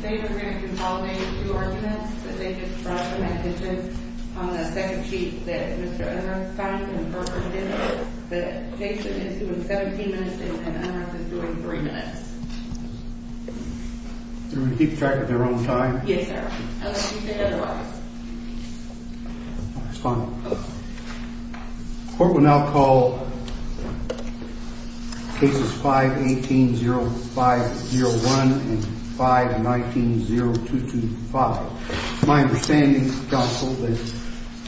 They were going to consolidate two arguments that they just brought to my attention on the second sheet that Mr. Unruh signed in her opinion, that Jason is doing 17 minutes and Unruh is doing 3 minutes. Do we keep track of their own time? Yes sir, unless you say otherwise. The court will now call cases 5-18-0501 and 5-19-0225. It's my understanding, counsel, that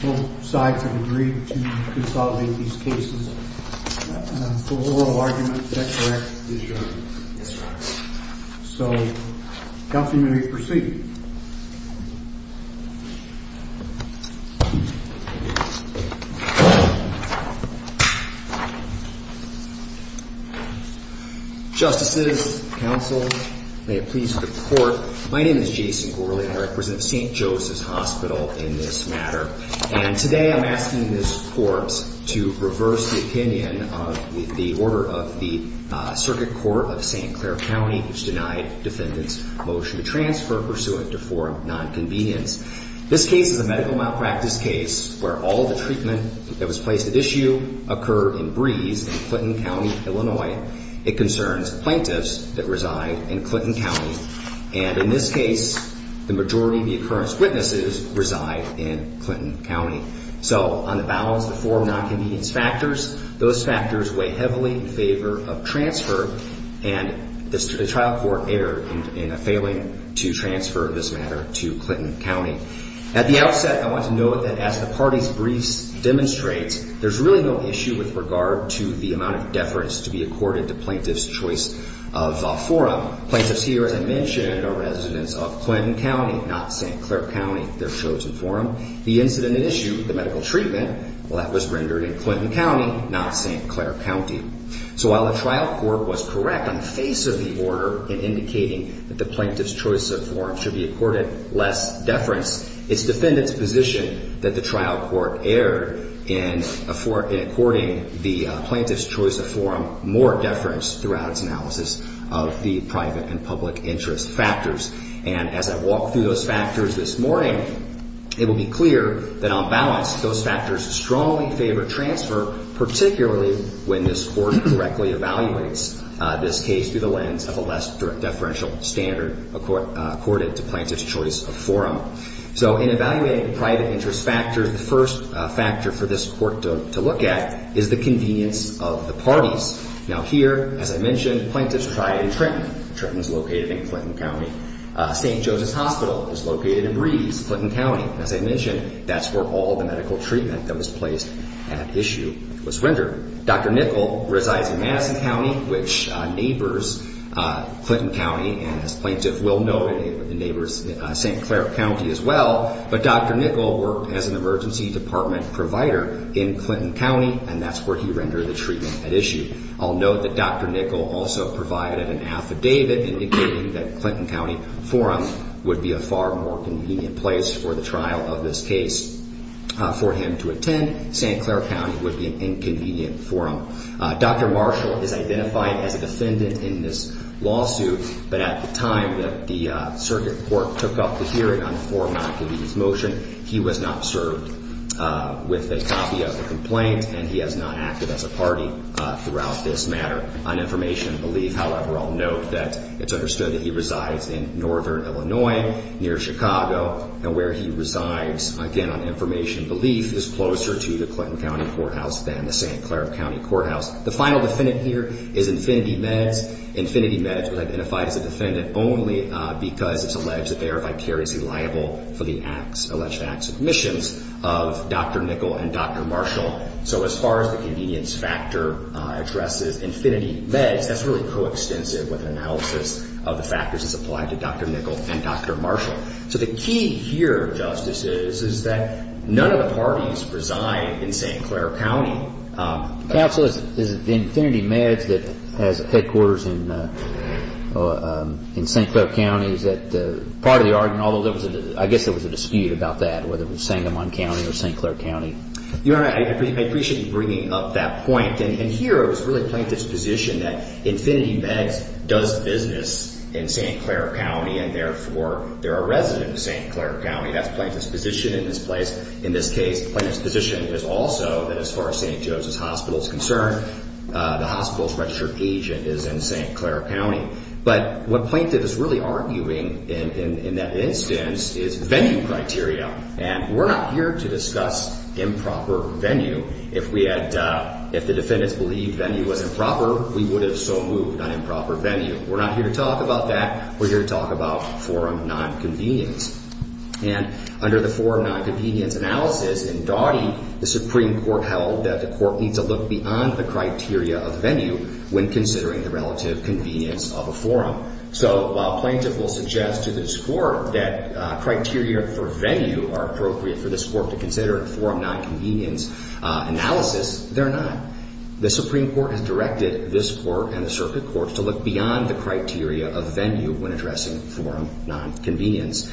both sides have agreed to consolidate these cases. The oral argument, is that correct? Yes, Your Honor. So, counsel, you may proceed. Justices, counsel, may it please the court. My name is Jason Gorley. I represent St. Joseph's Hospital in this matter. And today I'm asking this court to reverse the opinion of the order of the Circuit Court of St. Clair County, which denied defendants' motion to transfer pursuant to form non-convenience. This case is a medical malpractice case where all the treatment that was placed at issue occurred in Breeze in Clinton County, Illinois. It concerns plaintiffs that reside in Clinton County. And in this case, the majority of the occurrence witnesses reside in Clinton County. So, on the balance of the four non-convenience factors, those factors weigh heavily in favor of transfer. And the trial court erred in a failing to transfer this matter to Clinton County. At the outset, I want to note that as the parties' briefs demonstrate, there's really no issue with regard to the amount of deference to be accorded to plaintiffs' choice of forum. Plaintiffs here, as I mentioned, are residents of Clinton County, not St. Clair County, their chosen forum. The incident at issue, the medical treatment, well, that was rendered in Clinton County, not St. Clair County. So, while the trial court was correct on the face of the order in indicating that the plaintiffs' choice of forum should be accorded less deference, its defendants' position that the trial court erred in according the plaintiffs' choice of forum more deference throughout its analysis of the private and public interest factors. And as I walk through those factors this morning, it will be clear that on balance, those factors strongly favor transfer, particularly when this court correctly evaluates this case through the lens of a less deferential standard accorded to plaintiffs' choice of forum. So, in evaluating private interest factors, the first factor for this court to look at is the convenience of the parties. Now, here, as I mentioned, plaintiffs tried in Trenton. Trenton is located in Clinton County. St. Joseph's Hospital is located in Breeze, Clinton County. As I mentioned, that's where all the medical treatment that was placed at issue was rendered. Dr. Nickel resides in Madison County, which neighbors Clinton County and, as plaintiffs will know, neighbors St. Clair County as well. But Dr. Nickel worked as an emergency department provider in Clinton County, and that's where he rendered the treatment at issue. I'll note that Dr. Nickel also provided an affidavit indicating that Clinton County forum would be a far more convenient place for the trial of this case. For him to attend, St. Clair County would be an inconvenient forum. Dr. Marshall is identified as a defendant in this lawsuit, but at the time that the circuit court took up the hearing on the format of his motion, he was not served with a copy of the complaint, and he has not acted as a party throughout this matter. On information and belief, however, I'll note that it's understood that he resides in northern Illinois, near Chicago, and where he resides, again, on information and belief, is closer to the Clinton County courthouse than the St. Clair County courthouse. The final defendant here is Infinity Meds. Infinity Meds was identified as a defendant only because it's alleged that they are vicariously liable for the alleged acts of omissions of Dr. Nickel and Dr. Marshall. So as far as the convenience factor addresses Infinity Meds, that's really coextensive with an analysis of the factors as applied to Dr. Nickel and Dr. Marshall. So the key here, Justice, is that none of the parties reside in St. Clair County. Counsel, is it the Infinity Meds that has headquarters in St. Clair County? Is that part of the argument? Although I guess there was a dispute about that, whether it was Sangamon County or St. Clair County. Your Honor, I appreciate you bringing up that point. And here it was really Plaintiff's position that Infinity Meds does business in St. Clair County, and therefore they're a resident of St. Clair County. That's Plaintiff's position in this place. In this case, Plaintiff's position is also that as far as St. Joseph's Hospital is concerned, the hospital's registered agent is in St. Clair County. But what Plaintiff is really arguing in that instance is venue criteria. And we're not here to discuss improper venue. If the defendants believed venue was improper, we would have so moved on improper venue. We're not here to talk about that. We're here to talk about forum nonconvenience. And under the forum nonconvenience analysis in Daughty, the Supreme Court held that the Court needs to look beyond the criteria of venue when considering the relative convenience of a forum. So while Plaintiff will suggest to this Court that criteria for venue are appropriate for this Court to consider in forum nonconvenience analysis, they're not. The Supreme Court has directed this Court and the circuit courts to look beyond the criteria of venue when addressing forum nonconvenience.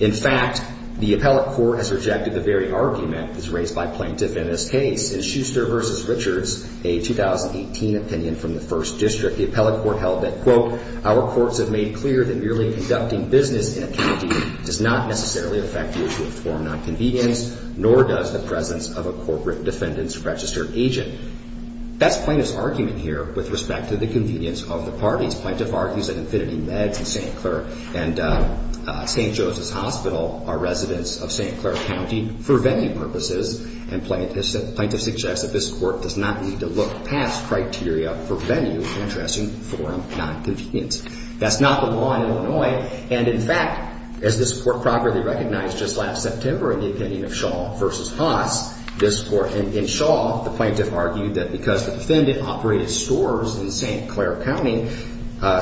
In fact, the appellate court has rejected the very argument that was raised by Plaintiff in this case. In Schuster v. Richards, a 2018 opinion from the First District, the appellate court held that, quote, our courts have made clear that merely conducting business in a county does not necessarily affect the issue of forum nonconvenience, nor does the presence of a corporate defendant's registered agent. That's Plaintiff's argument here with respect to the convenience of the parties. Plaintiff argues that Infinity Meds in St. Clair and St. Joseph's Hospital are residents of St. Clair County for venue purposes, and Plaintiff suggests that this Court does not need to look past criteria for venue when addressing forum nonconvenience. That's not the law in Illinois, and in fact, as this Court properly recognized just last September in the opinion of Shaw v. Haas, this Court, in Shaw, the Plaintiff argued that because the defendant operated stores in St. Clair County,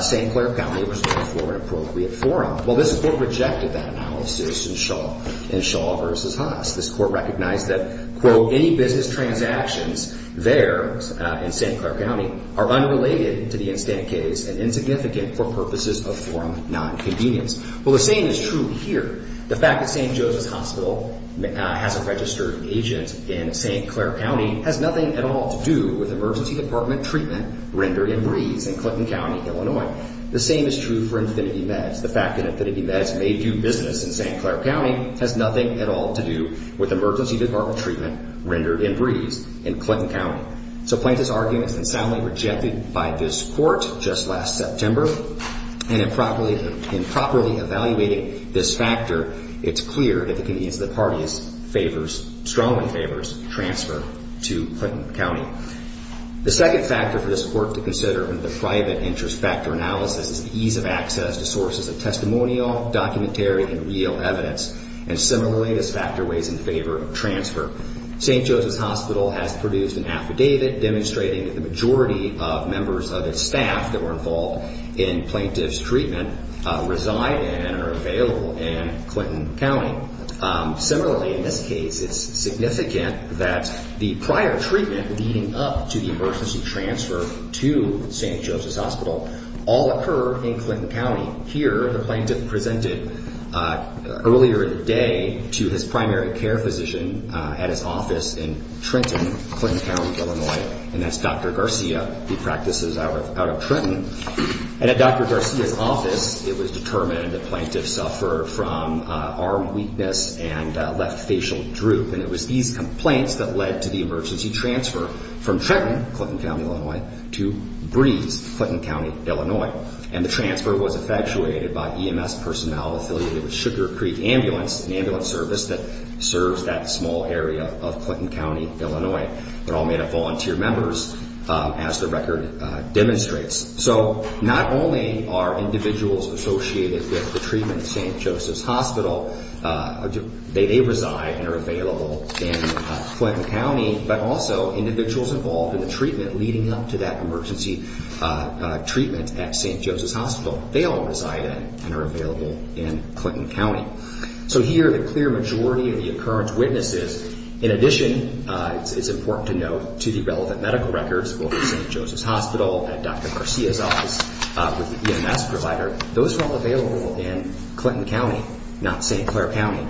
St. Clair County was known for an appropriate forum. Well, this Court rejected that analysis in Shaw v. Haas. This Court recognized that, quote, any business transactions there in St. Clair County are unrelated to the instant case and insignificant for purposes of forum nonconvenience. Well, the same is true here. The fact that St. Joseph's Hospital has a registered agent in St. Clair County has nothing at all to do with emergency department treatment rendered in Breeze in Clinton County, Illinois. The same is true for Infinity Meds. The fact that Infinity Meds may do business in St. Clair County has nothing at all to do with emergency department treatment rendered in Breeze in Clinton County. So Plaintiff's argument has been soundly rejected by this Court just last September. And in properly evaluating this factor, it's clear that the convenience of the parties favors, strongly favors, transfer to Clinton County. The second factor for this Court to consider in the private interest factor analysis is the ease of access to sources of testimonial, documentary, and real evidence. And similarly, this factor weighs in favor of transfer. St. Joseph's Hospital has produced an affidavit demonstrating that the majority of members of its staff that were involved in Plaintiff's treatment reside and are available in Clinton County. Similarly, in this case, it's significant that the prior treatment leading up to the emergency transfer to St. Joseph's Hospital all occur in Clinton County. Here, the Plaintiff presented earlier in the day to his primary care physician at his office in Trenton, Clinton County, Illinois. And that's Dr. Garcia, who practices out of Trenton. And at Dr. Garcia's office, it was determined that Plaintiff suffered from arm weakness and left facial droop. And it was these complaints that led to the emergency transfer from Trenton, Clinton County, Illinois, to Breeze, Clinton County, Illinois. And the transfer was effectuated by EMS personnel affiliated with Sugar Creek Ambulance, an ambulance service that serves that small area of Clinton County, Illinois. They're all made up of volunteer members, as the record demonstrates. So not only are individuals associated with the treatment at St. Joseph's Hospital, they reside and are available in Clinton County, but also individuals involved in the treatment leading up to that emergency treatment at St. Joseph's Hospital, they all reside in and are available in Clinton County. So here, the clear majority of the occurrence witnesses, in addition, it's important to note, to the relevant medical records, both at St. Joseph's Hospital, at Dr. Garcia's office, with the EMS provider, those are all available in Clinton County, not St. Clair County.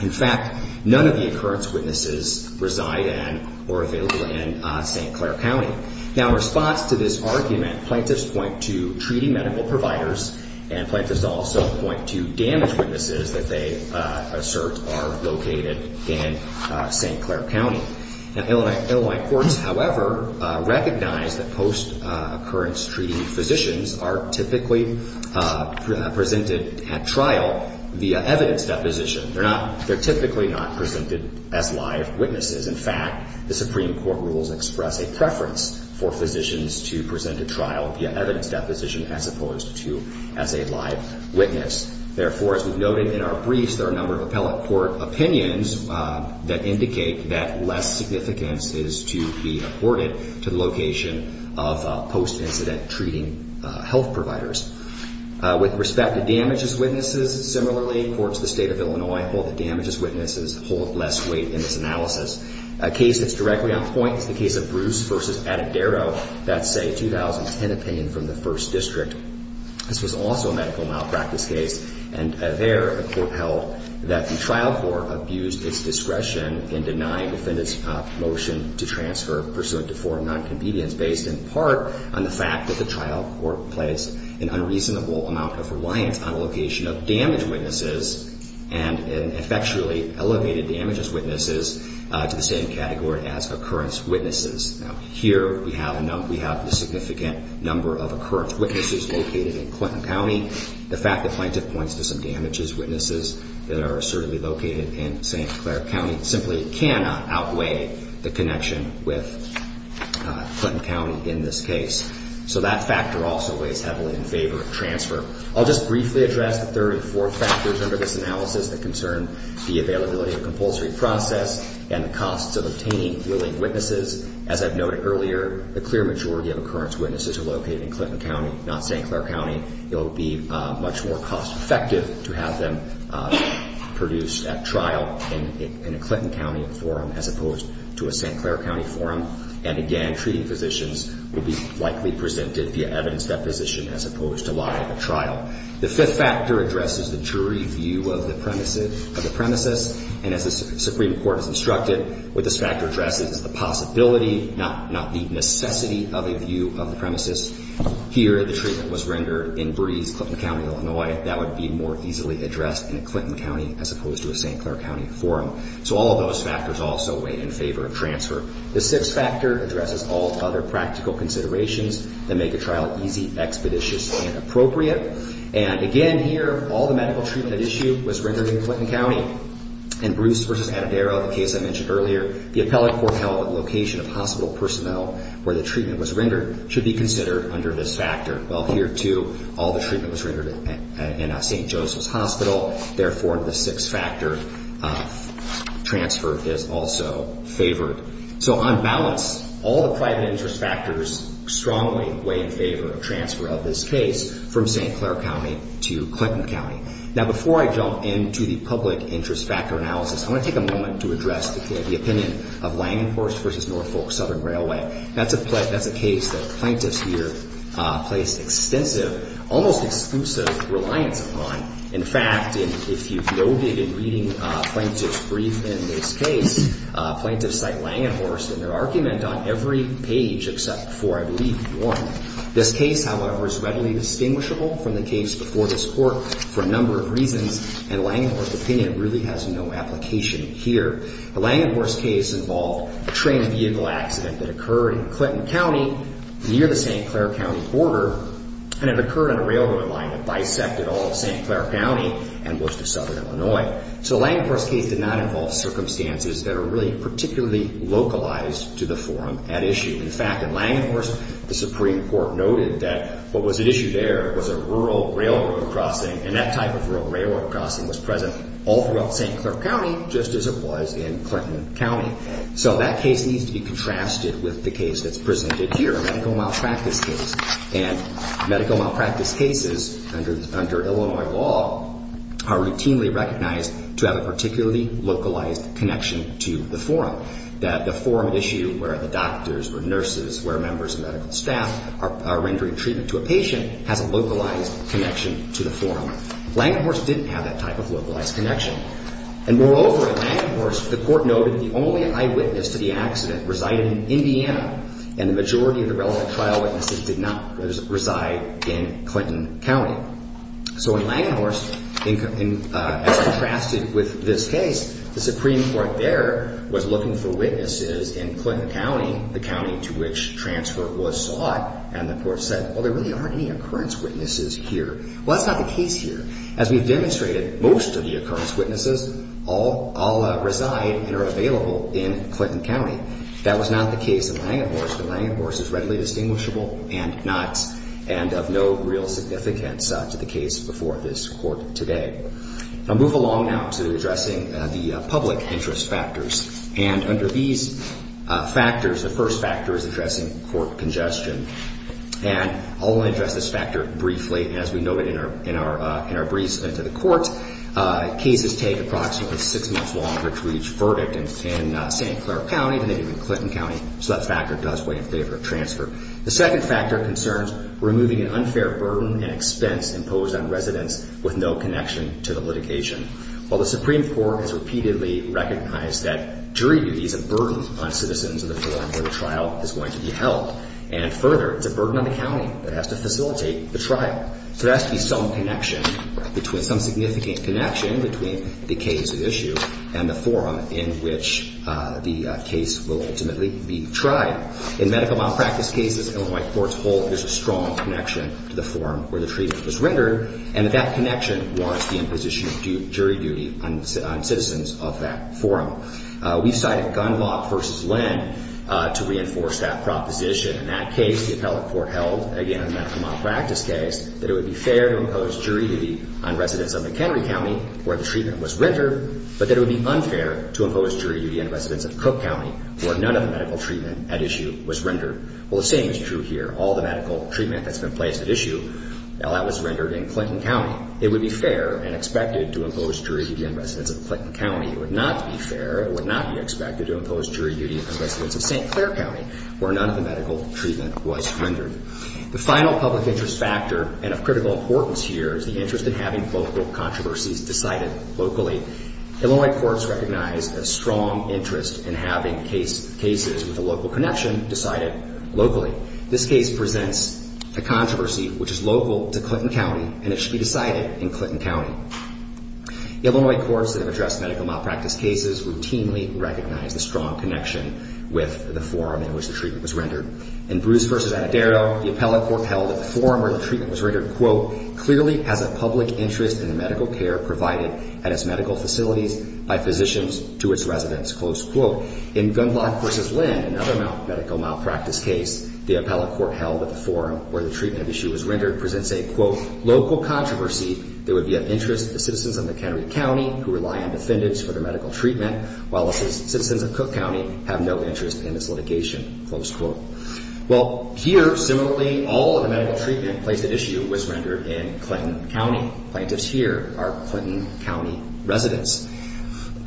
In fact, none of the occurrence witnesses reside in or are available in St. Clair County. Now, in response to this argument, plaintiffs point to treating medical providers, and plaintiffs also point to damage witnesses that they assert are located in St. Clair County. Illinois courts, however, recognize that post-occurrence treating physicians are typically presented at trial via evidence deposition. They're typically not presented as live witnesses. In fact, the Supreme Court rules express a preference for physicians to present at trial via evidence deposition as opposed to as a live witness. Therefore, as we've noted in our briefs, there are a number of appellate court opinions that indicate that less significance is to be afforded to the location of post-incident treating health providers. With respect to damages witnesses, similarly, courts in the state of Illinois hold that damages witnesses hold less weight in this analysis. A case that's directly on point is the case of Bruce v. Addadero. That's a 2010 opinion from the 1st District. This was also a medical malpractice case, and there a court held that the trial court abused its discretion in denying the defendant's motion to transfer pursuant to foreign non-convenience based in part on the fact that the trial court placed an unreasonable amount of reliance on the location of damage witnesses and effectually elevated damages witnesses to the same category as occurrence witnesses. Now, here we have the significant number of occurrence witnesses located in Clinton County. The fact that plaintiff points to some damages witnesses that are certainly located in St. Clair County simply cannot outweigh the connection with Clinton County in this case. So that factor also weighs heavily in favor of transfer. I'll just briefly address the third and fourth factors under this analysis that concern the availability of compulsory process and the costs of obtaining willing witnesses. As I've noted earlier, the clear majority of occurrence witnesses are located in Clinton County, not St. Clair County. It will be much more cost effective to have them produced at trial in a Clinton County forum as opposed to a St. Clair County forum. And again, treating physicians will be likely presented via evidence deposition as opposed to live at trial. The fifth factor addresses the jury view of the premises. And as the Supreme Court has instructed, what this factor addresses is the possibility, not the necessity of a view of the premises. Here, the treatment was rendered in Breeze, Clinton County, Illinois. That would be more easily addressed in a Clinton County as opposed to a St. Clair County forum. So all of those factors also weigh in favor of transfer. The sixth factor addresses all other practical considerations that make a trial easy, expeditious, and appropriate. And again, here, all the medical treatment at issue was rendered in Clinton County. In Bruce v. Addadero, the case I mentioned earlier, the appellate court held that the location of hospital personnel where the treatment was rendered should be considered under this factor. Well, here, too, all the treatment was rendered in a St. Joseph's Hospital. Therefore, the sixth factor transfer is also favored. So on balance, all the private interest factors strongly weigh in favor of transfer of this case from St. Clair County to Clinton County. Now, before I jump into the public interest factor analysis, I want to take a moment to address the opinion of Langenhorst v. Norfolk Southern Railway. That's a case that plaintiffs here placed extensive, almost exclusive, reliance upon. In fact, if you've noted in reading plaintiff's brief in this case, plaintiffs cite Langenhorst in their argument on every page except for, I believe, one. This case, however, is readily distinguishable from the case before this court for a number of reasons, and Langenhorst's opinion really has no application here. The Langenhorst case involved a train vehicle accident that occurred in Clinton County near the St. Clair County border, and it occurred on a railroad line that bisected all of St. Clair County and most of Southern Illinois. So Langenhorst's case did not involve circumstances that are really particularly localized to the forum at issue. In fact, in Langenhorst, the Supreme Court noted that what was at issue there was a rural railroad crossing, and that type of rural railroad crossing was present all throughout St. Clair County, just as it was in Clinton County. So that case needs to be contrasted with the case that's presented here, a medical malpractice case. And medical malpractice cases under Illinois law are routinely recognized to have a particularly localized connection to the forum, that the forum at issue where the doctors or nurses or members of medical staff are rendering treatment to a patient has a localized connection to the forum. Langenhorst didn't have that type of localized connection. And moreover, at Langenhorst, the court noted that the only eyewitness to the accident resided in Indiana, and the majority of the relevant trial witnesses did not reside in Clinton County. So in Langenhorst, as contrasted with this case, the Supreme Court there was looking for witnesses in Clinton County, the county to which transfer was sought, and the court said, well, there really aren't any occurrence witnesses here. Well, that's not the case here. As we've demonstrated, most of the occurrence witnesses all reside and are available in Clinton County. That was not the case in Langenhorst, but Langenhorst is readily distinguishable and not, and of no real significance to the case before this court today. I'll move along now to addressing the public interest factors. And under these factors, the first factor is addressing court congestion. And I'll address this factor briefly. As we noted in our briefs to the court, cases take approximately six months longer to reach verdict in St. Clair County than they do in Clinton County, so that factor does weigh in favor of transfer. The second factor concerns removing an unfair burden and expense imposed on residents with no connection to the litigation. While the Supreme Court has repeatedly recognized that jury duty is a burden on citizens of the court where the trial is going to be held, and further, it's a burden on the county that has to facilitate the trial. So there has to be some connection, some significant connection between the case at issue and the forum in which the case will ultimately be tried. In medical malpractice cases and in white courts, there's a strong connection to the forum where the treatment was rendered, and that that connection wants the imposition of jury duty on citizens of that forum. We cited Gundlach v. Lynn to reinforce that proposition. In that case, the appellate court held, again, in the medical malpractice case, that it would be fair to impose jury duty on residents of McHenry County where the treatment was rendered, but that it would be unfair to impose jury duty on residents of Cook County where none of the medical treatment at issue was rendered. Well, the same is true here. All the medical treatment that's been placed at issue, that was rendered in Clinton County. It would be fair and expected to impose jury duty on residents of Clinton County. It would not be fair. It would not be expected to impose jury duty on residents of St. Clair County where none of the medical treatment was rendered. The final public interest factor and of critical importance here is the interest in having local controversies decided locally. Illinois courts recognize a strong interest in having cases with a local connection decided locally. This case presents a controversy which is local to Clinton County, and it should be decided in Clinton County. Illinois courts that have addressed medical malpractice cases routinely recognize the strong connection with the forum in which the treatment was rendered. In Bruce v. Addero, the appellate court held at the forum where the treatment was rendered, quote, clearly has a public interest in the medical care provided at its medical facilities by physicians to its residents. Close quote. In Gundlach v. Lynn, another medical malpractice case, the appellate court held at the forum where the treatment at issue was rendered presents a, quote, local controversy that would be of interest to the citizens of McHenry County who rely on defendants for their medical treatment, while the citizens of Cook County have no interest in this litigation. Close quote. Well, here, similarly, all of the medical treatment placed at issue was rendered in Clinton County. Plaintiffs here are Clinton County residents.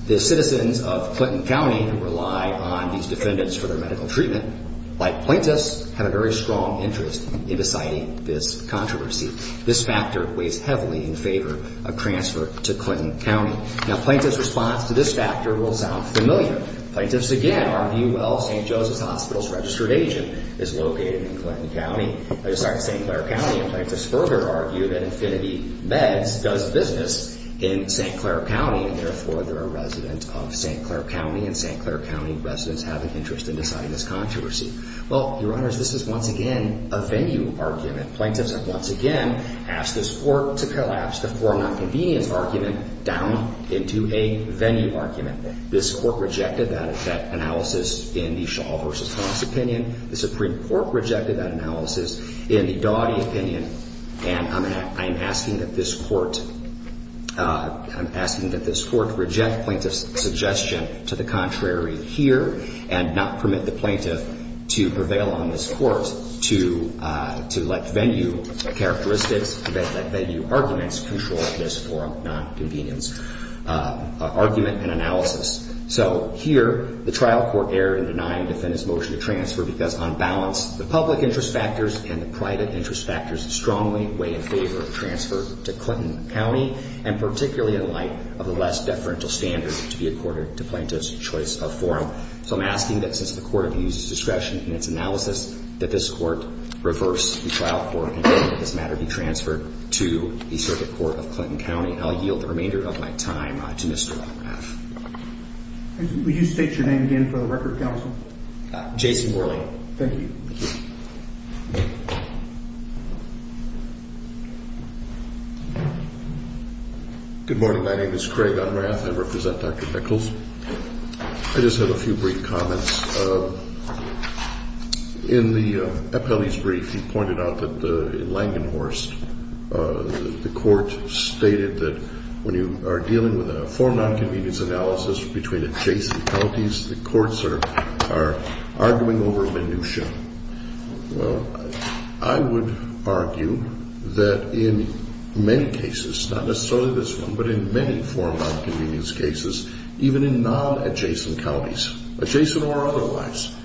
The citizens of Clinton County who rely on these defendants for their medical treatment, like plaintiffs, have a very strong interest in deciding this controversy. This factor weighs heavily in favor of transfer to Clinton County. Now, plaintiffs' response to this factor will sound familiar. Plaintiffs, again, argue, well, St. Joseph's Hospital's registered agent is located in Clinton County, sorry, St. Clair County, and plaintiffs further argue that Infinity Meds does business in St. Clair County, and therefore they're a resident of St. Clair County, and St. Clair County residents have an interest in deciding this controversy. Well, Your Honors, this is, once again, a venue argument. Plaintiffs have, once again, asked this Court to collapse the form-not-convenience argument down into a venue argument. This Court rejected that analysis in the Shaw v. Cox opinion. The Supreme Court rejected that analysis in the Dawdy opinion, and I'm asking that this Court reject plaintiff's suggestion to the contrary here and not permit the plaintiff to prevail on this Court to let venue characteristics, to let venue arguments control this form-not-convenience argument and analysis. So here, the trial court erred in denying defendants' motion to transfer because, on balance, the public interest factors and the private interest factors strongly weigh in favor of transfer to Clinton County, and particularly in light of the less deferential standards to be accorded to plaintiffs' choice of forum. So I'm asking that, since the Court abuses discretion in its analysis, that this Court reverse the trial court and let this matter be transferred to the Circuit Court of Clinton County, and I'll yield the remainder of my time to Mr. Unrath. Would you state your name again for the record, Counsel? Jason Worley. Thank you. Good morning. My name is Craig Unrath. I represent Dr. Nichols. I just have a few brief comments. In the appellee's brief, you pointed out that in Langenhorst, the Court stated that when you are dealing with a form-not-convenience analysis between adjacent counties, the courts are arguing over minutia. Well, I would argue that in many cases, not necessarily this one, but in many form-not-convenience cases, even in non-adjacent counties, adjacent or otherwise,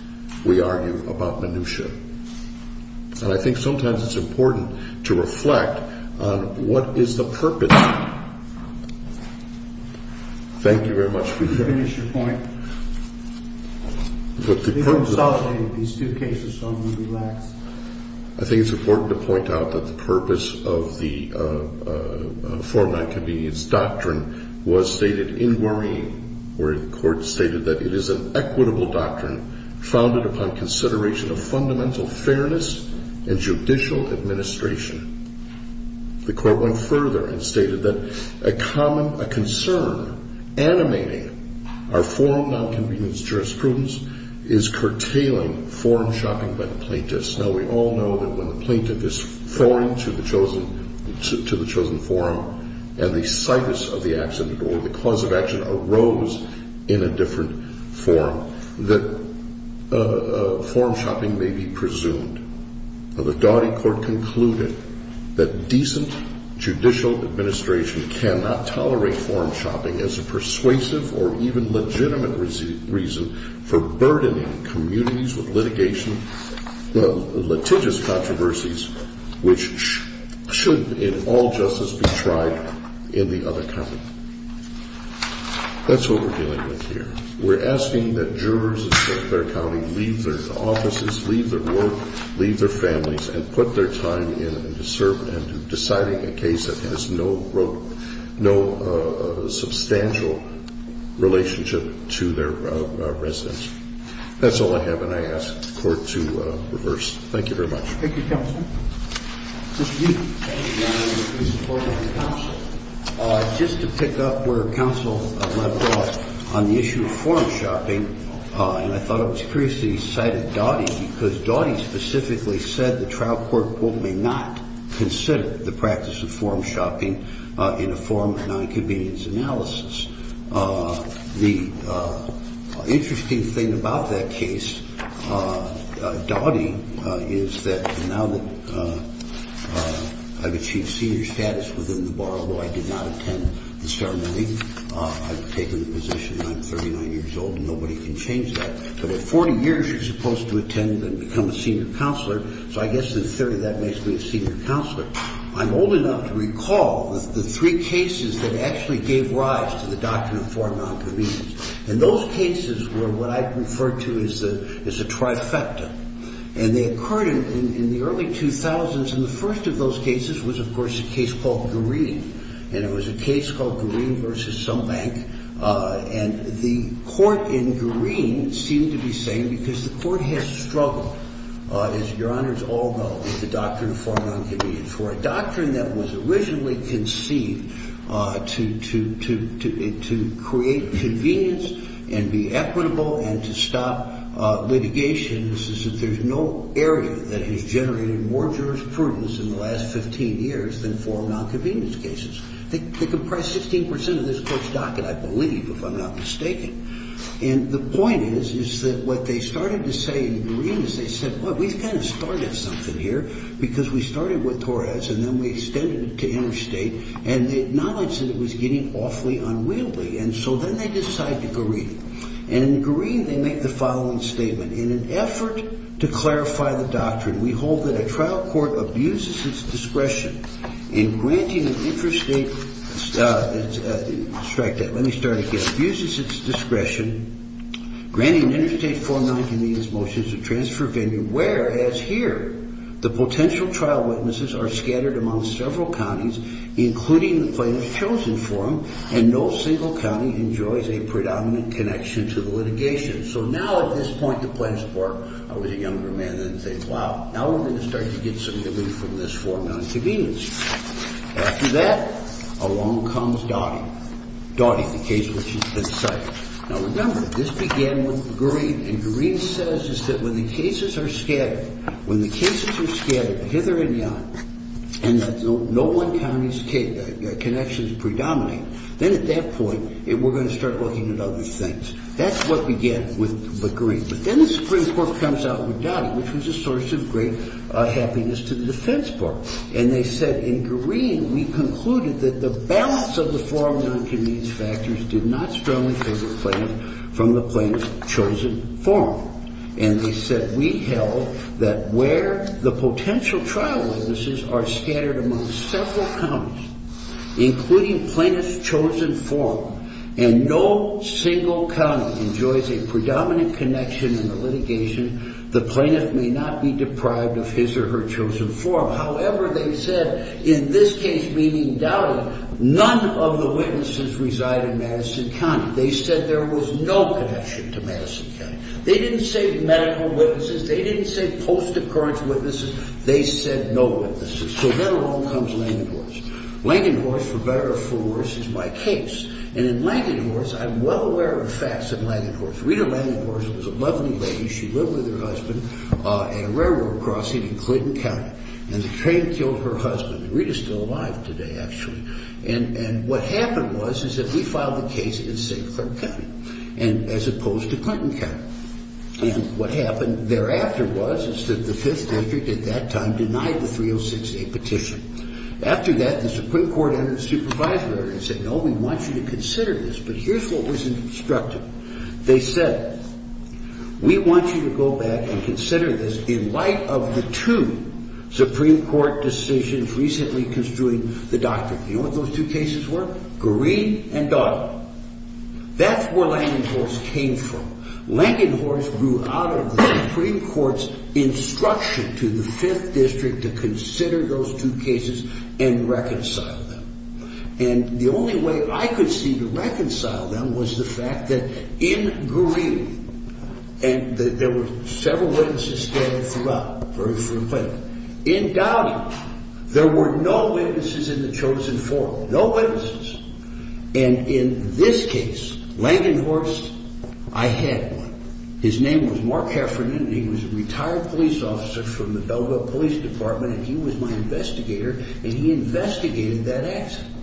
we argue about minutia. And I think sometimes it's important to reflect on what is the purpose. Thank you very much for your time. Could you finish your point? Please don't insult me in these two cases, so I'm going to relax. I think it's important to point out that the purpose of the form-not-convenience doctrine was stated in Woreen, where the Court stated that it is an equitable doctrine founded upon consideration of fundamental fairness and judicial administration. The Court went further and stated that a common concern animating our form-not-convenience jurisprudence is curtailing form-shopping by the plaintiffs. Now, we all know that when the plaintiff is foreign to the chosen form and the situs of the accident or the cause of action arose in a different form, that form-shopping may be presumed. Now, the Daugherty Court concluded that decent judicial administration cannot tolerate form-shopping as a persuasive or even legitimate reason for burdening communities with litigation, litigious controversies which should in all justice be tried in the other county. That's what we're dealing with here. We're asking that jurors in St. Clair County leave their offices, leave their work, leave their families, and put their time into serving and deciding a case that has no substantial relationship to their residents. That's all I have, and I ask the Court to reverse. Thank you very much. Thank you, counsel. Mr. Newton. Thank you, Your Honor. Can you support me on counsel? Just to pick up where counsel left off on the issue of form-shopping, and I thought it was curious that you cited Daugherty, because Daugherty specifically said the trial court, quote, may not consider the practice of form-shopping in a form of nonconvenience analysis. The interesting thing about that case, Daugherty, is that now that I've achieved senior status within the bar where I did not attend the ceremony, I've taken the position that I'm 39 years old and nobody can change that, so at 40 years you're supposed to attend and become a senior counselor, so I guess in theory that makes me a senior counselor. I'm old enough to recall the three cases that actually gave rise to the doctrine of form nonconvenience, and those cases were what I'd refer to as a trifecta, and they occurred in the early 2000s, and the first of those cases was, of course, a case called Green, and it was a case called Green v. Sumbank, and the court in Green seemed to be saying, because the court had struggled, as Your Honors all know, with the doctrine of form nonconvenience. For a doctrine that was originally conceived to create convenience and be equitable and to stop litigation, this is that there's no area that has generated more jurisprudence in the last 15 years than form nonconvenience cases. They comprise 16% of this court's docket, I believe, if I'm not mistaken, and the point is that what they started to say in Green is they said, well, we've kind of started something here because we started with Torres and then we extended it to interstate, and they acknowledged that it was getting awfully unwieldy, and so then they decided to go Green, and in Green they make the following statement, in an effort to clarify the doctrine, we hold that a trial court abuses its discretion in granting an interstate, strike that, let me start again, abuses its discretion, granting interstate form nonconvenience motions of transfer venue, whereas here the potential trial witnesses are scattered among several counties, including the plaintiff's chosen forum, and no single county enjoys a predominant connection to the litigation. So now at this point the plaintiff's court, I was a younger man then, says, wow, now we're going to start to get some relief from this form nonconvenience. After that, along comes Dottie, Dottie, the case which has been cited. Now, remember, this began with Green, and Green says is that when the cases are scattered, when the cases are scattered hither and yon, and no one county's connections predominate, then at that point we're going to start looking at other things. That's what began with Green. But then the Supreme Court comes out with Dottie, which was a source of great happiness to the defense court. And they said in Green we concluded that the balance of the form nonconvenience factors did not strongly favor plaintiff from the plaintiff's chosen forum. And they said we held that where the potential trial witnesses are scattered among several counties, including plaintiff's chosen forum, and no single county enjoys a predominant connection in the litigation, the plaintiff may not be deprived of his or her chosen forum. However, they said in this case, meaning Dottie, none of the witnesses reside in Madison County. They said there was no connection to Madison County. They didn't say medical witnesses. They didn't say post-occurrence witnesses. They said no witnesses. So then along comes Langenhorst. Langenhorst, for better or for worse, is my case. And in Langenhorst, I'm well aware of facts in Langenhorst. Rita Langenhorst was a lovely lady. She lived with her husband at a railroad crossing in Clinton County. And the train killed her husband. Rita's still alive today, actually. And what happened was is that we filed the case in St. Clair County as opposed to Clinton County. And what happened thereafter was is that the Fifth District at that time denied the 306A petition. After that, the Supreme Court entered a supervisory order and said, no, we want you to consider this. But here's what was instructed. They said, we want you to go back and consider this in light of the two Supreme Court decisions recently construing the doctrine. You know what those two cases were? Green and Dottie. That's where Langenhorst came from. Langenhorst grew out of the Supreme Court's instruction to the Fifth District to consider those two cases and reconcile them. And the only way I could see to reconcile them was the fact that in Green, and there were several witnesses standing throughout, very frequently. In Dottie, there were no witnesses in the chosen four. No witnesses. And in this case, Langenhorst, I had one. His name was Mark Heffernan. He was a retired police officer from the Belleville Police Department, and he was my investigator, and he investigated that accident.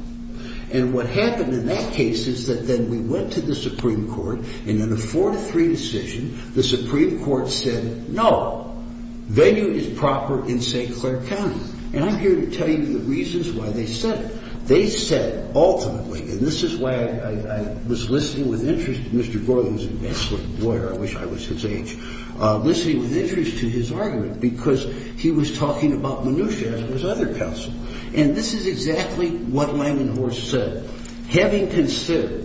And what happened in that case is that then we went to the Supreme Court, and in a four-to-three decision, the Supreme Court said, no. Venue is proper in St. Clair County. And I'm here to tell you the reasons why they said it. They said ultimately, and this is why I was listening with interest to Mr. Gordon's advancement lawyer. I wish I was his age. Listening with interest to his argument because he was talking about minutia as was other counsel. And this is exactly what Langenhorst said. Having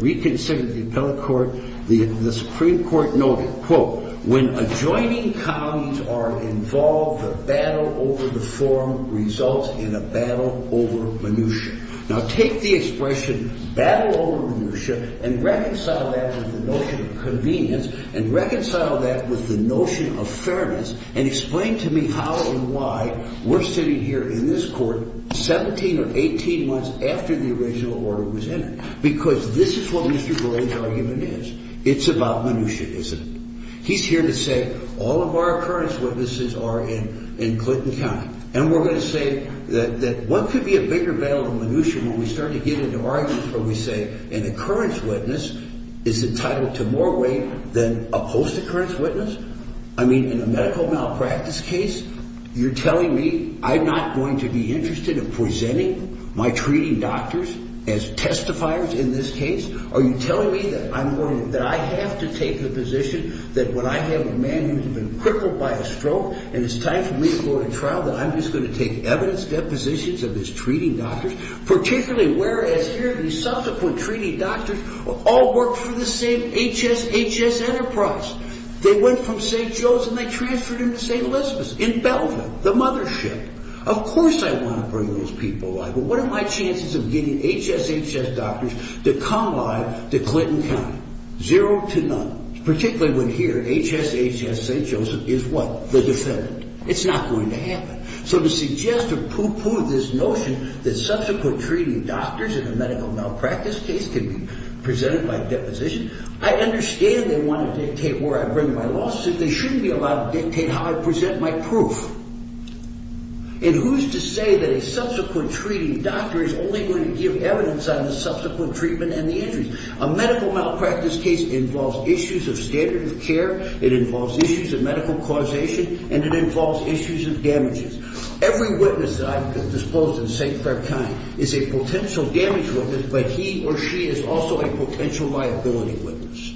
reconsidered the appellate court, the Supreme Court noted, quote, when adjoining counties are involved, a battle over the forum results in a battle over minutia. Now, take the expression battle over minutia and reconcile that with the notion of convenience and reconcile that with the notion of fairness and explain to me how and why we're sitting here in this court 17 or 18 months after the original order was passed. Because this is what Mr. Gordon's argument is. It's about minutia, isn't it? He's here to say all of our occurrence witnesses are in Clinton County. And we're going to say that one could be a bigger battle than minutia when we start to get into arguments where we say an occurrence witness is entitled to more weight than a post-occurrence witness. I mean, in a medical malpractice case, you're telling me I'm not going to be interested in presenting my treating doctors as testifiers in this case? Are you telling me that I have to take the position that when I have a man who's been crippled by a stroke and it's time for me to go to trial that I'm just going to take evidence depositions of his treating doctors? Particularly whereas here the subsequent treating doctors all worked for the same HSHS Enterprise. They went from St. Joe's and they transferred him to St. Elizabeth's in Belgium, the mothership. Of course I want to bring those people. But what are my chances of getting HSHS doctors to come live to Clinton County? Zero to none. Particularly when here HSHS St. Joseph is what? The defendant. It's not going to happen. So to suggest or pooh-pooh this notion that subsequent treating doctors in a medical malpractice case can be presented by deposition, I understand they want to dictate where I bring my lawsuits. They shouldn't be allowed to dictate how I present my proof. And who's to say that a subsequent treating doctor is only going to give evidence on the subsequent treatment and the injuries? A medical malpractice case involves issues of standard of care, it involves issues of medical causation, and it involves issues of damages. Every witness that I've disposed of in St. Clair County is a potential damage witness but he or she is also a potential liability witness.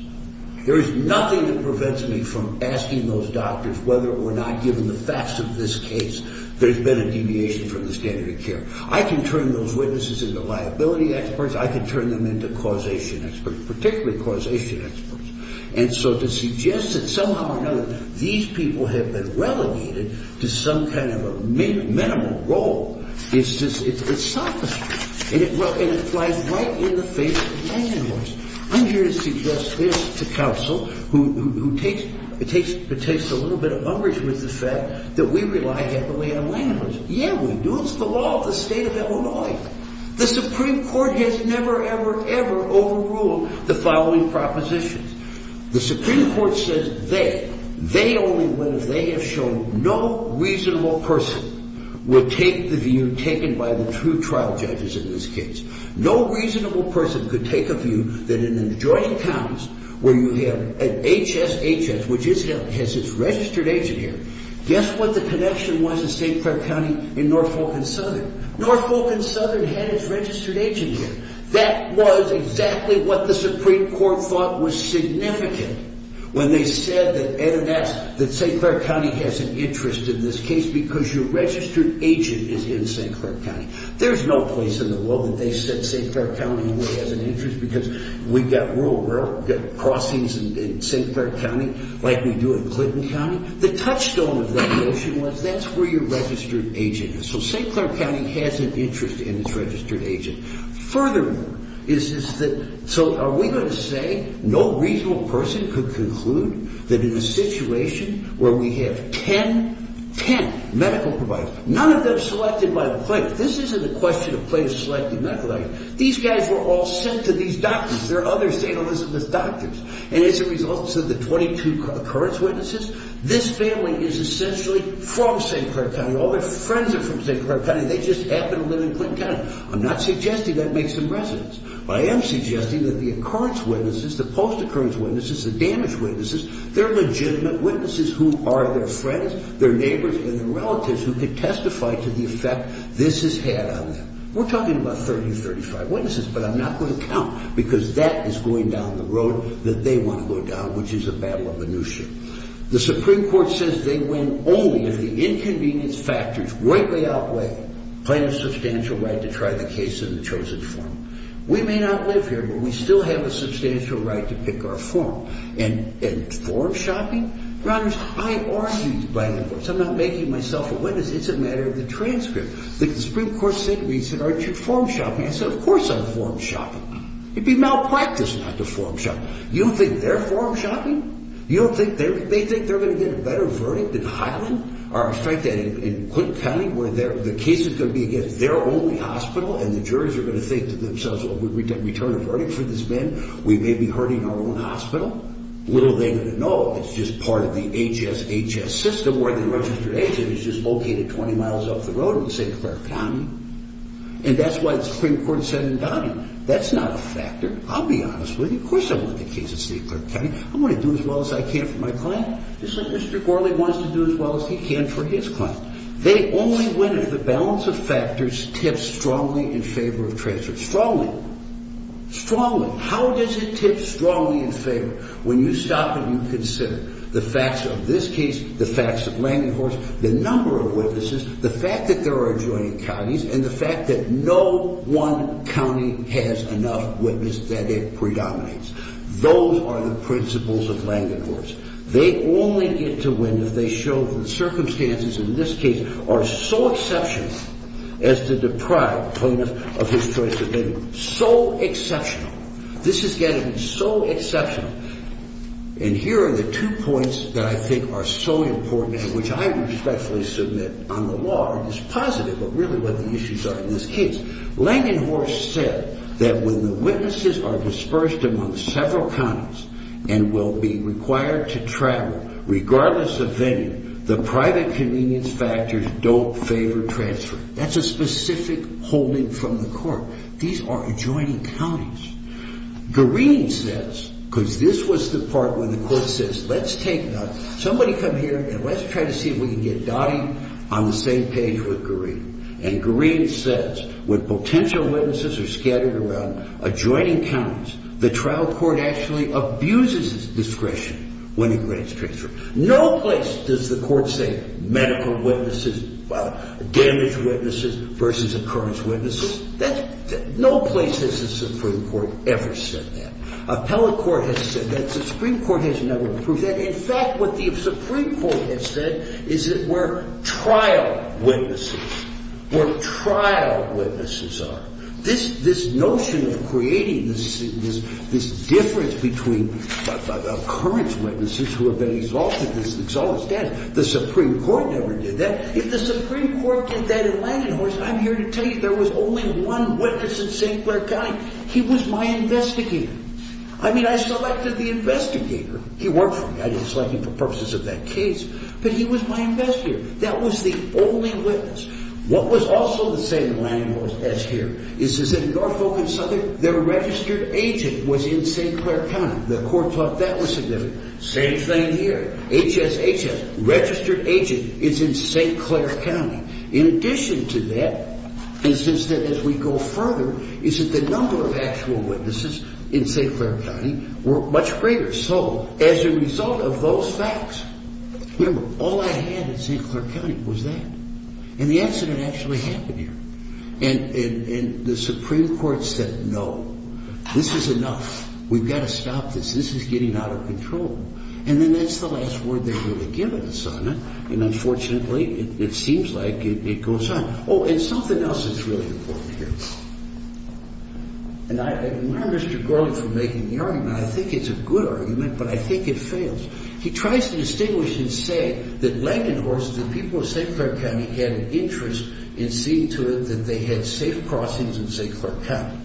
There is nothing that prevents me from asking those doctors whether or not given the facts of this case there's been a deviation from the standard of care. I can turn those witnesses into liability experts, I can turn them into causation experts, particularly causation experts. And so to suggest that somehow or another these people have been relegated to some kind of a minimal role, it's selfish. And it flies right in the face of landlords. I'm here to suggest this to counsel who takes a little bit of umbrage with the fact that we rely heavily on landlords. Yeah, we do, it's the law of the state of Illinois. The Supreme Court has never, ever, ever overruled the following propositions. The Supreme Court says they, they only win if they have shown no reasonable person would take the view taken by the true trial judges in this case. No reasonable person could take a view that in an adjoining county where you have an HSHS, which has its registered agent here, guess what the connection was in St. Clair County in Norfolk and Southern? Norfolk and Southern had its registered agent here. That was exactly what the Supreme Court thought was significant when they said that St. Clair County has an interest in this case because your registered agent is in St. Clair County. There's no place in the world that they said St. Clair County only has an interest because we've got rural, we've got crossings in St. Clair County like we do in Clinton County. The touchstone of that notion was that's where your registered agent is. So St. Clair County has an interest in its registered agent. Furthermore, is that, so are we going to say no reasonable person could conclude that in a situation where we have 10, 10 medical providers, none of them selected by the plaintiff. This isn't a question of plaintiff selecting medical agents. These guys were all sent to these doctors. And as a result of the 22 occurrence witnesses, this family is essentially from St. Clair County. All their friends are from St. Clair County. They just happen to live in Clinton County. I'm not suggesting that makes them residents. I am suggesting that the occurrence witnesses, the post-occurrence witnesses, the damage witnesses, they're legitimate witnesses who are their friends, their neighbors, and their relatives who could testify to the effect this has had on them. We're talking about 30, 35 witnesses, but I'm not going to count because that is going down the road that they want to go down, which is a battle of minutia. The Supreme Court says they win only if the inconvenience factors right way outweigh plaintiff's substantial right to try the case in the chosen form. We may not live here, but we still have a substantial right to pick our form. And form shopping? I argue by the courts. I'm not making myself a witness. It's a matter of the transcript. The Supreme Court said to me, said, aren't you form shopping? I said, of course I'm form shopping. It'd be malpractice not to form shop. You don't think they're form shopping? You don't think they think they're going to get a better verdict in Highland? Or in fact, in Clinton County, where the case is going to be against their only hospital, and the juries are going to think to themselves, well, would we return a verdict for this man? We may be hurting our own hospital. Little are they going to know. It's just part of the HSHS system where the registered agent is just located 20 miles off the road in St. Clair County. And that's what the Supreme Court said in Donahue. That's not a factor. I'll be honest with you. Of course I want the case in St. Clair County. I'm going to do as well as I can for my client, just like Mr. Gorley wants to do as well as he can for his client. They only win if the balance of factors tips strongly in favor of transcript. Strongly. Strongly. How does it tip strongly in favor? When you stop and you consider the facts of this case, the facts of Langenhorst, the number of witnesses, the fact that there are adjoining counties, and the fact that no one county has enough witnesses that it predominates. Those are the principles of Langenhorst. They only get to win if they show the circumstances in this case are so exceptional as to deprive Ponus of his choice of bidding. So exceptional. This is getting so exceptional. And here are the two points that I think are so important and which I respectfully submit on the law are just positive of really what the issues are in this case. Langenhorst said that when the witnesses are dispersed among several counties and will be required to travel regardless of venue, the private convenience factors don't favor transfer. That's a specific holding from the court. These are adjoining counties. Gareen says, because this was the part where the court says, let's take, somebody come here and let's try to see if we can get Dottie on the same page with Gareen. And Gareen says when potential witnesses are scattered around adjoining counties, the trial court actually abuses discretion when it grants transfer. No place does the court say medical witnesses, damage witnesses versus occurrence witnesses. No place has the Supreme Court ever said that. Appellate court has said that. The Supreme Court has never proved that. In fact, what the Supreme Court has said is that we're trial witnesses, we're trial witnesses are. This notion of creating this difference between occurrence witnesses who have been exalted, this exalted status, the Supreme Court never did that. If the Supreme Court did that in Landing Horse, I'm here to tell you there was only one witness in St. Clair County. He was my investigator. I mean, I selected the investigator. He worked for me. I didn't select him for purposes of that case. But he was my investigator. That was the only witness. What was also the same in Landing Horse as here is that in Norfolk and Southern, their registered agent was in St. Clair County. The court thought that was significant. Same thing here. HSHS. Registered agent is in St. Clair County. In addition to that, and since then as we go further, is that the number of actual witnesses in St. Clair County were much greater. So as a result of those facts, remember, all I had in St. Clair County was that. And the accident actually happened here. And the Supreme Court said, no, this is enough. We've got to stop this. This is getting out of control. And then that's the last word they're going to give us on it. And unfortunately, it seems like it goes on. Oh, and something else that's really important here. And I admire Mr. Garlick for making the argument. I think it's a good argument, but I think it fails. He tries to distinguish and say that Landing Horse, the people of St. Clair County, had an interest in seeing to it that they had safe crossings in St. Clair County,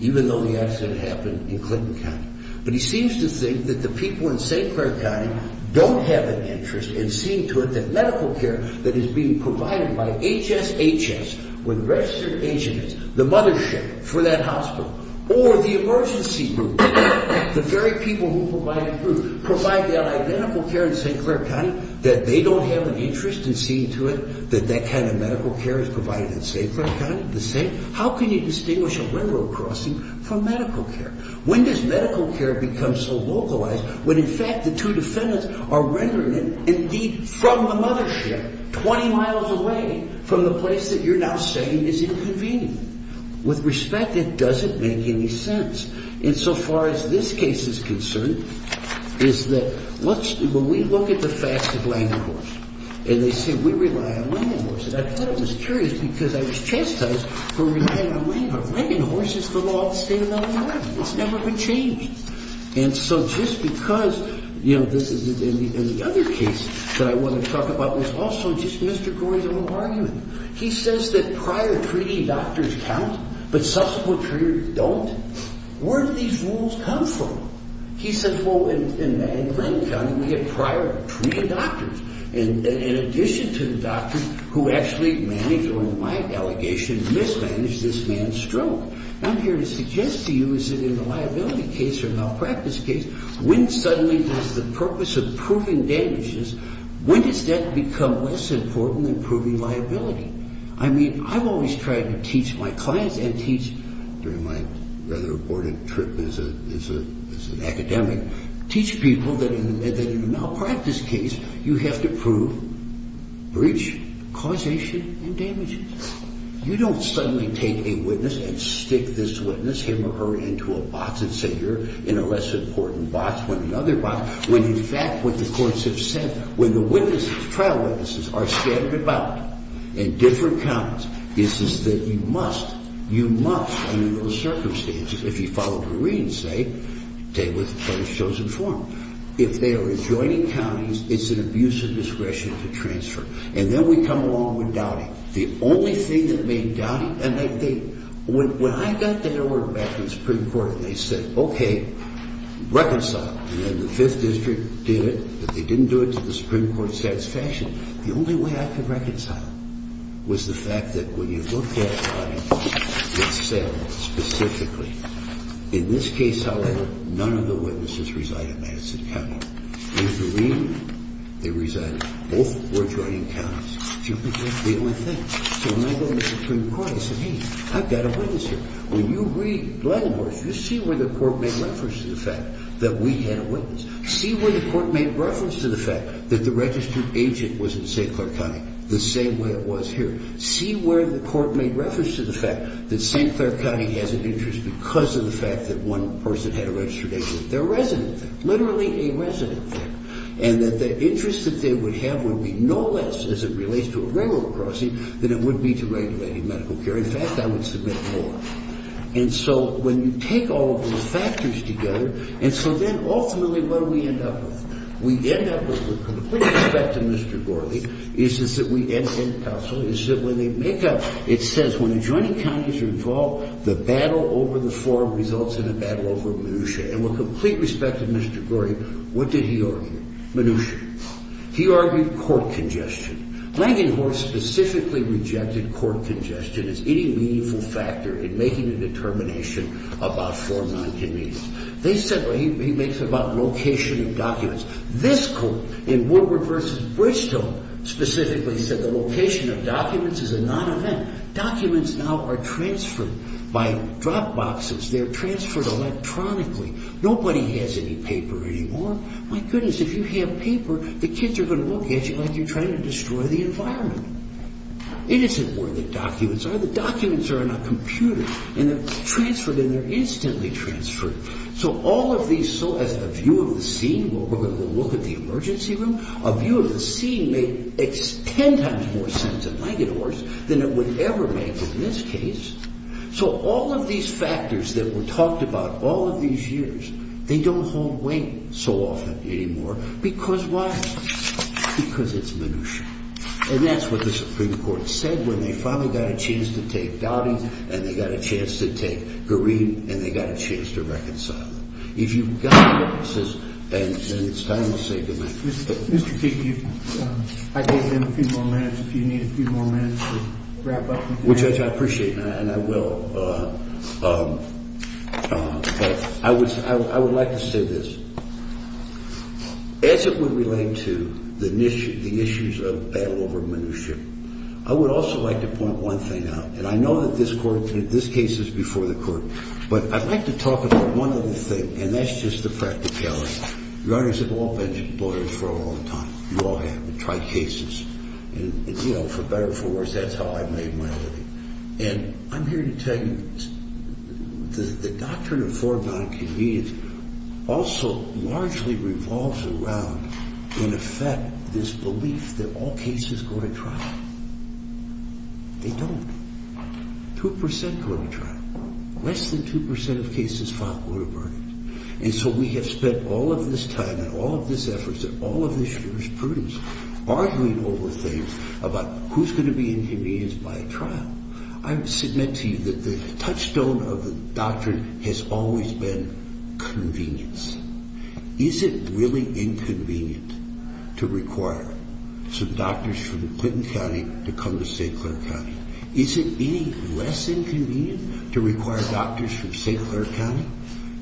even though the accident happened in Clinton County. But he seems to think that the people in St. Clair County don't have an interest in seeing to it that medical care that is being provided by HSHS, when registered agent is, the mothership for that hospital, or the emergency room, the very people who provide that medical care in St. Clair County, that they don't have an interest in seeing to it that that kind of medical care is provided in St. Clair County. How can you distinguish a railroad crossing from medical care? When does medical care become so localized when, in fact, the two defendants are rendering it, indeed, from the mothership, 20 miles away from the place that you're now saying is inconvenient? With respect, it doesn't make any sense. And so far as this case is concerned, is that when we look at the facts of Landing Horse, and they say we rely on Landing Horses, I thought it was curious because I was chastised for relying on Landing Horses for law of the state of Illinois. It's never been changed. And so just because, you know, this is in the other case that I want to talk about, there's also just Mr. Gore's own argument. He says that prior treaty doctors count, but subsequent treaters don't. Where do these rules come from? He says, well, in Lang County, we have prior treaty doctors, in addition to the doctors who actually manage, or in my delegation, mismanage this man's stroke. I'm here to suggest to you is that in a liability case or a malpractice case, when suddenly does the purpose of proving damages, when does that become less important than proving liability? I mean, I've always tried to teach my clients and teach, during my rather aborted trip as an academic, teach people that in a malpractice case, you have to prove breach, causation, and damages. You don't suddenly take a witness and stick this witness, him or her, into a box and say you're in a less important box than the other box. When, in fact, what the courts have said, when the witnesses, trial witnesses, are scattered about in different counties, it's just that you must, you must, under those circumstances, if you follow Doreen's say, take what the court has chosen for them. If they are adjoining counties, it's an abuse of discretion to transfer. And then we come along with doubting. The only thing that made doubting, and I think, when I got that order back from the Supreme Court and they said, okay, reconcile. And then the Fifth District did it, but they didn't do it to the Supreme Court's satisfaction. The only way I could reconcile was the fact that when you look at it, it said specifically, in this case, however, none of the witnesses reside in Madison County. In Doreen, they resided. Both were adjoining counties. The only thing, so when I go to the Supreme Court, I say, hey, I've got a witness here. When you read Glenhorse, you see where the court made reference to the fact that we had a witness. See where the court made reference to the fact that the registered agent was in St. Clair County, the same way it was here. See where the court made reference to the fact that St. Clair County has an interest because of the fact that one person had a registered agent. They're residents there, literally a resident there, and that the interest that they would have would be no less, as it relates to a railroad crossing, than it would be to regulating medical care. In fact, I would submit more. And so when you take all of those factors together, and so then ultimately what do we end up with? We end up with the complete opposite of Mr. Gorley, is that we end up in council, is that when they make up, it says when adjoining counties are involved, the battle over the form results in a battle over minutia. And with complete respect to Mr. Gorley, what did he argue? Minutia. He argued court congestion. Langenhorst specifically rejected court congestion as any meaningful factor in making a determination about form non-convenience. They said, well, he makes it about location of documents. This court, in Woodward v. Bridgestone, specifically said the location of documents is a non-event. Documents now are transferred by drop boxes. They're transferred electronically. Nobody has any paper anymore. My goodness, if you have paper, the kids are going to look at you like you're trying to destroy the environment. It isn't where the documents are. The documents are in a computer, and they're transferred, and they're instantly transferred. So all of these, so as the view of the scene, where we're going to go look at the emergency room, a view of the scene made ten times more sense in Langenhorst than it would ever make in this case. So all of these factors that were talked about all of these years, they don't hold weight so often anymore. Because why? Because it's minutia. And that's what the Supreme Court said when they finally got a chance to take Dowdy, and they got a chance to take Green, and they got a chance to reconcile them. If you've got witnesses, and it's time to say goodnight. Mr. Keefe, I gave you a few more minutes. If you need a few more minutes to wrap up. Judge, I appreciate that, and I will. But I would like to say this. As it would relate to the issues of battle over minutia, I would also like to point one thing out. And I know that this case is before the court. But I'd like to talk about one other thing, and that's just the practicality. Your honors have all been exploited for a long time. You all have. You've tried cases. And, you know, for better or for worse, that's how I made my living. And I'm here to tell you, the doctrine of foreboding convenience also largely revolves around, in effect, this belief that all cases go to trial. They don't. Two percent go to trial. Less than two percent of cases filed go to burden. And so we have spent all of this time and all of this effort and all of this jurisprudence largely over things about who's going to be inconvenienced by a trial. I submit to you that the touchstone of the doctrine has always been convenience. Is it really inconvenient to require some doctors from Clinton County to come to St. Clair County? Is it any less inconvenient to require doctors from St. Clair County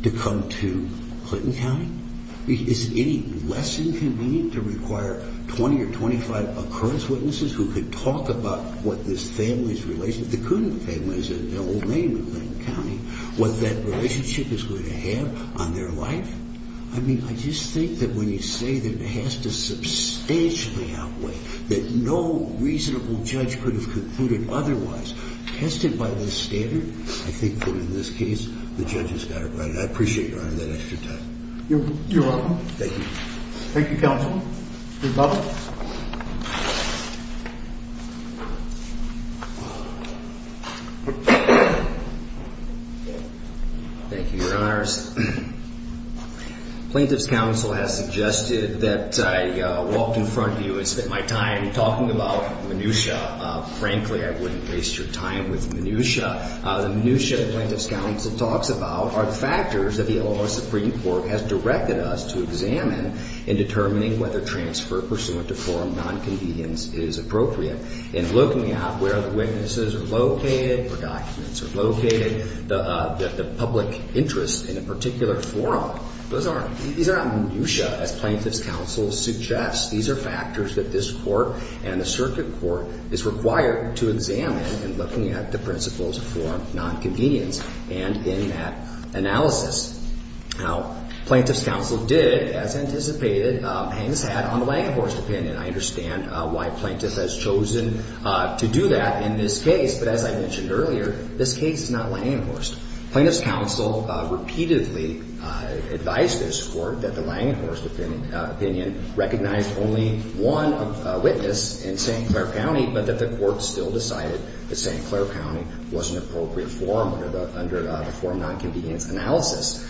to come to Clinton County? Is it any less inconvenient to require 20 or 25 occurrence witnesses who could talk about what this family's relationship, the Coonan family is an old name in Clinton County, what that relationship is going to have on their life? I mean, I just think that when you say that it has to substantially outweigh, that no reasonable judge could have concluded otherwise, tested by this standard, I think that in this case the judge has got it right. And I appreciate your honor that extra time. You're welcome. Thank you. Thank you, counsel. Mr. Butler. Thank you, your honors. Plaintiff's counsel has suggested that I walk in front of you and spend my time talking about minutiae. Frankly, I wouldn't waste your time with minutiae. The minutiae the plaintiff's counsel talks about are the factors that the L.A. Supreme Court has directed us to examine in determining whether transfer pursuant to forum nonconvenience is appropriate. In looking at where the witnesses are located, where documents are located, the public interest in a particular forum, those aren't minutiae, as plaintiff's counsel suggests. These are factors that this court and the circuit court is required to examine in looking at the principles of forum nonconvenience and in that analysis. Now, plaintiff's counsel did, as anticipated, hang his hat on the Langhorst opinion. I understand why plaintiff has chosen to do that in this case, but as I mentioned earlier, this case is not Langhorst. Plaintiff's counsel repeatedly advised this court that the Langhorst opinion recognized only one witness in St. Clair County, but that the court still decided that St. Clair County was an appropriate forum under the forum nonconvenience analysis.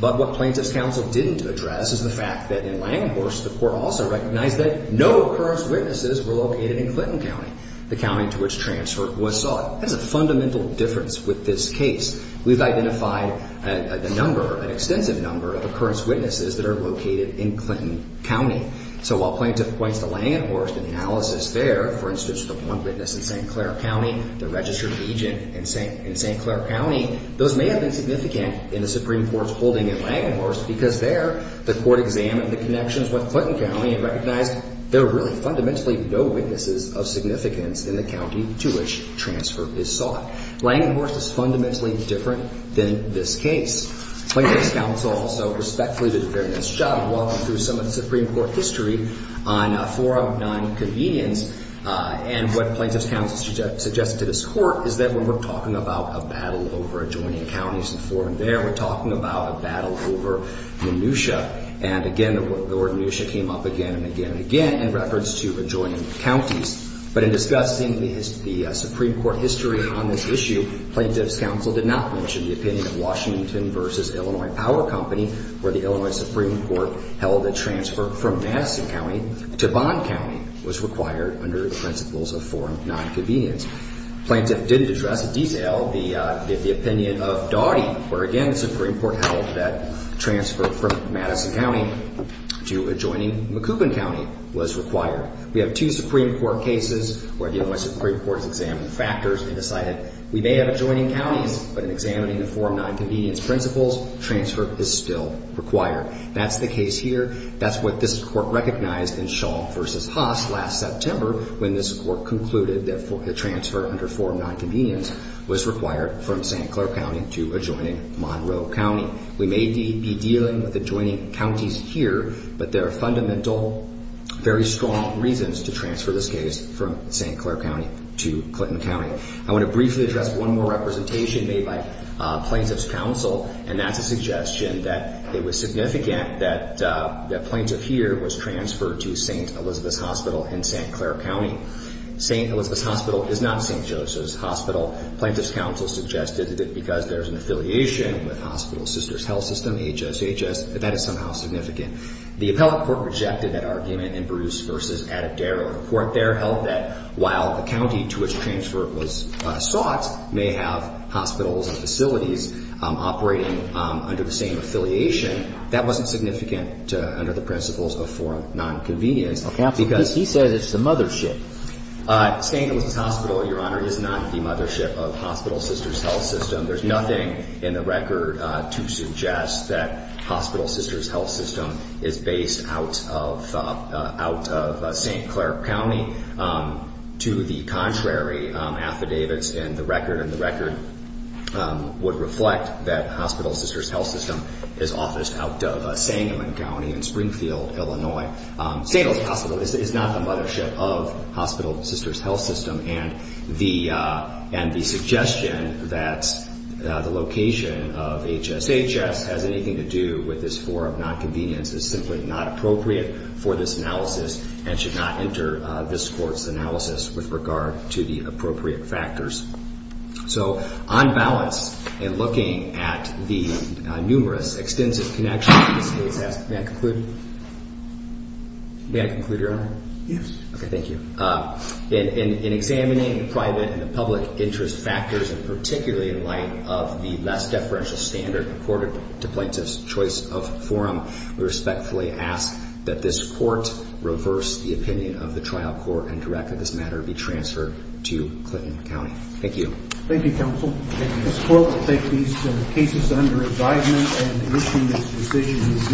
But what plaintiff's counsel didn't address is the fact that in Langhorst, the court also recognized that no occurrence witnesses were located in Clinton County, the county to which transfer was sought. That's a fundamental difference with this case. We've identified a number, an extensive number, of occurrence witnesses that are located in Clinton County. So while plaintiff points to Langhorst in the analysis there, for instance, the one witness in St. Clair County, the registered agent in St. Clair County, those may have been significant in the Supreme Court's holding in Langhorst because there, the court examined the connections with Clinton County and recognized there were really fundamentally no witnesses of significance in the county to which transfer is sought. Langhorst is fundamentally different than this case. Plaintiff's counsel also respectfully did a very nice job of walking through some of the Supreme Court history on forum nonconvenience and what plaintiff's counsel suggested to this court is that when we're talking about a battle over adjoining counties and forum there, we're talking about a battle over Minutia. And again, the word Minutia came up again and again and again in reference to adjoining counties. But in discussing the Supreme Court history on this issue, plaintiff's counsel did not mention the opinion of Washington versus Illinois Power Company where the Illinois Supreme Court held that transfer from Madison County to Bond County was required under the principles of forum nonconvenience. Plaintiff didn't address in detail the opinion of Daugherty where again the Supreme Court held that transfer from Madison County to adjoining McCoubin County was required. We have two Supreme Court cases where the Illinois Supreme Court examined factors and decided we may have adjoining counties but in examining the forum nonconvenience principles, transfer is still required. That's the case here. That's what this court recognized in Shaw versus Haas last September when this court concluded that the transfer under forum nonconvenience was required from St. Clair County to adjoining Monroe County. We may be dealing with adjoining counties here but there are fundamental, very strong reasons to transfer this case from St. Clair County to Clinton County. I want to briefly address one more representation made by plaintiff's counsel and that's a suggestion that it was significant that the plaintiff here was transferred to St. Elizabeth's Hospital in St. Clair County. St. Elizabeth's Hospital is not St. Joseph's Hospital. Plaintiff's counsel suggested that because there's an affiliation with Hospital Sisters Health System, HSHS, that that is somehow significant. The appellate court rejected that argument in Bruce versus Adderall. The court there held that while the county to which transfer was sought may have hospitals and facilities operating under the same affiliation, that wasn't significant under the principles of forum nonconvenience. Because he says it's the mothership. St. Elizabeth's Hospital, Your Honor, is not the mothership of Hospital Sisters Health System. There's nothing in the record to suggest that Hospital Sisters Health System is based out of St. Clair County. To the contrary, affidavits in the record and the record would reflect that Hospital Sisters Health System is officed out of Sangamon County in Springfield, Illinois. St. Elizabeth's Hospital is not the mothership of Hospital Sisters Health System. And the suggestion that the location of HSHS has anything to do with this forum nonconvenience is simply not appropriate for this analysis and should not enter this court's analysis with regard to the appropriate factors. So, on balance, in looking at the numerous extensive connections in this case, may I conclude? May I conclude, Your Honor? Yes. Okay, thank you. In examining the private and the public interest factors, and particularly in light of the less deferential standard accorded to plaintiffs' choice of forum, we respectfully ask that this court reverse the opinion of the trial court and direct that this matter be transferred to Clinton County. Thank you. Thank you, counsel. This court will take these cases under advisement and issue this decision in due course.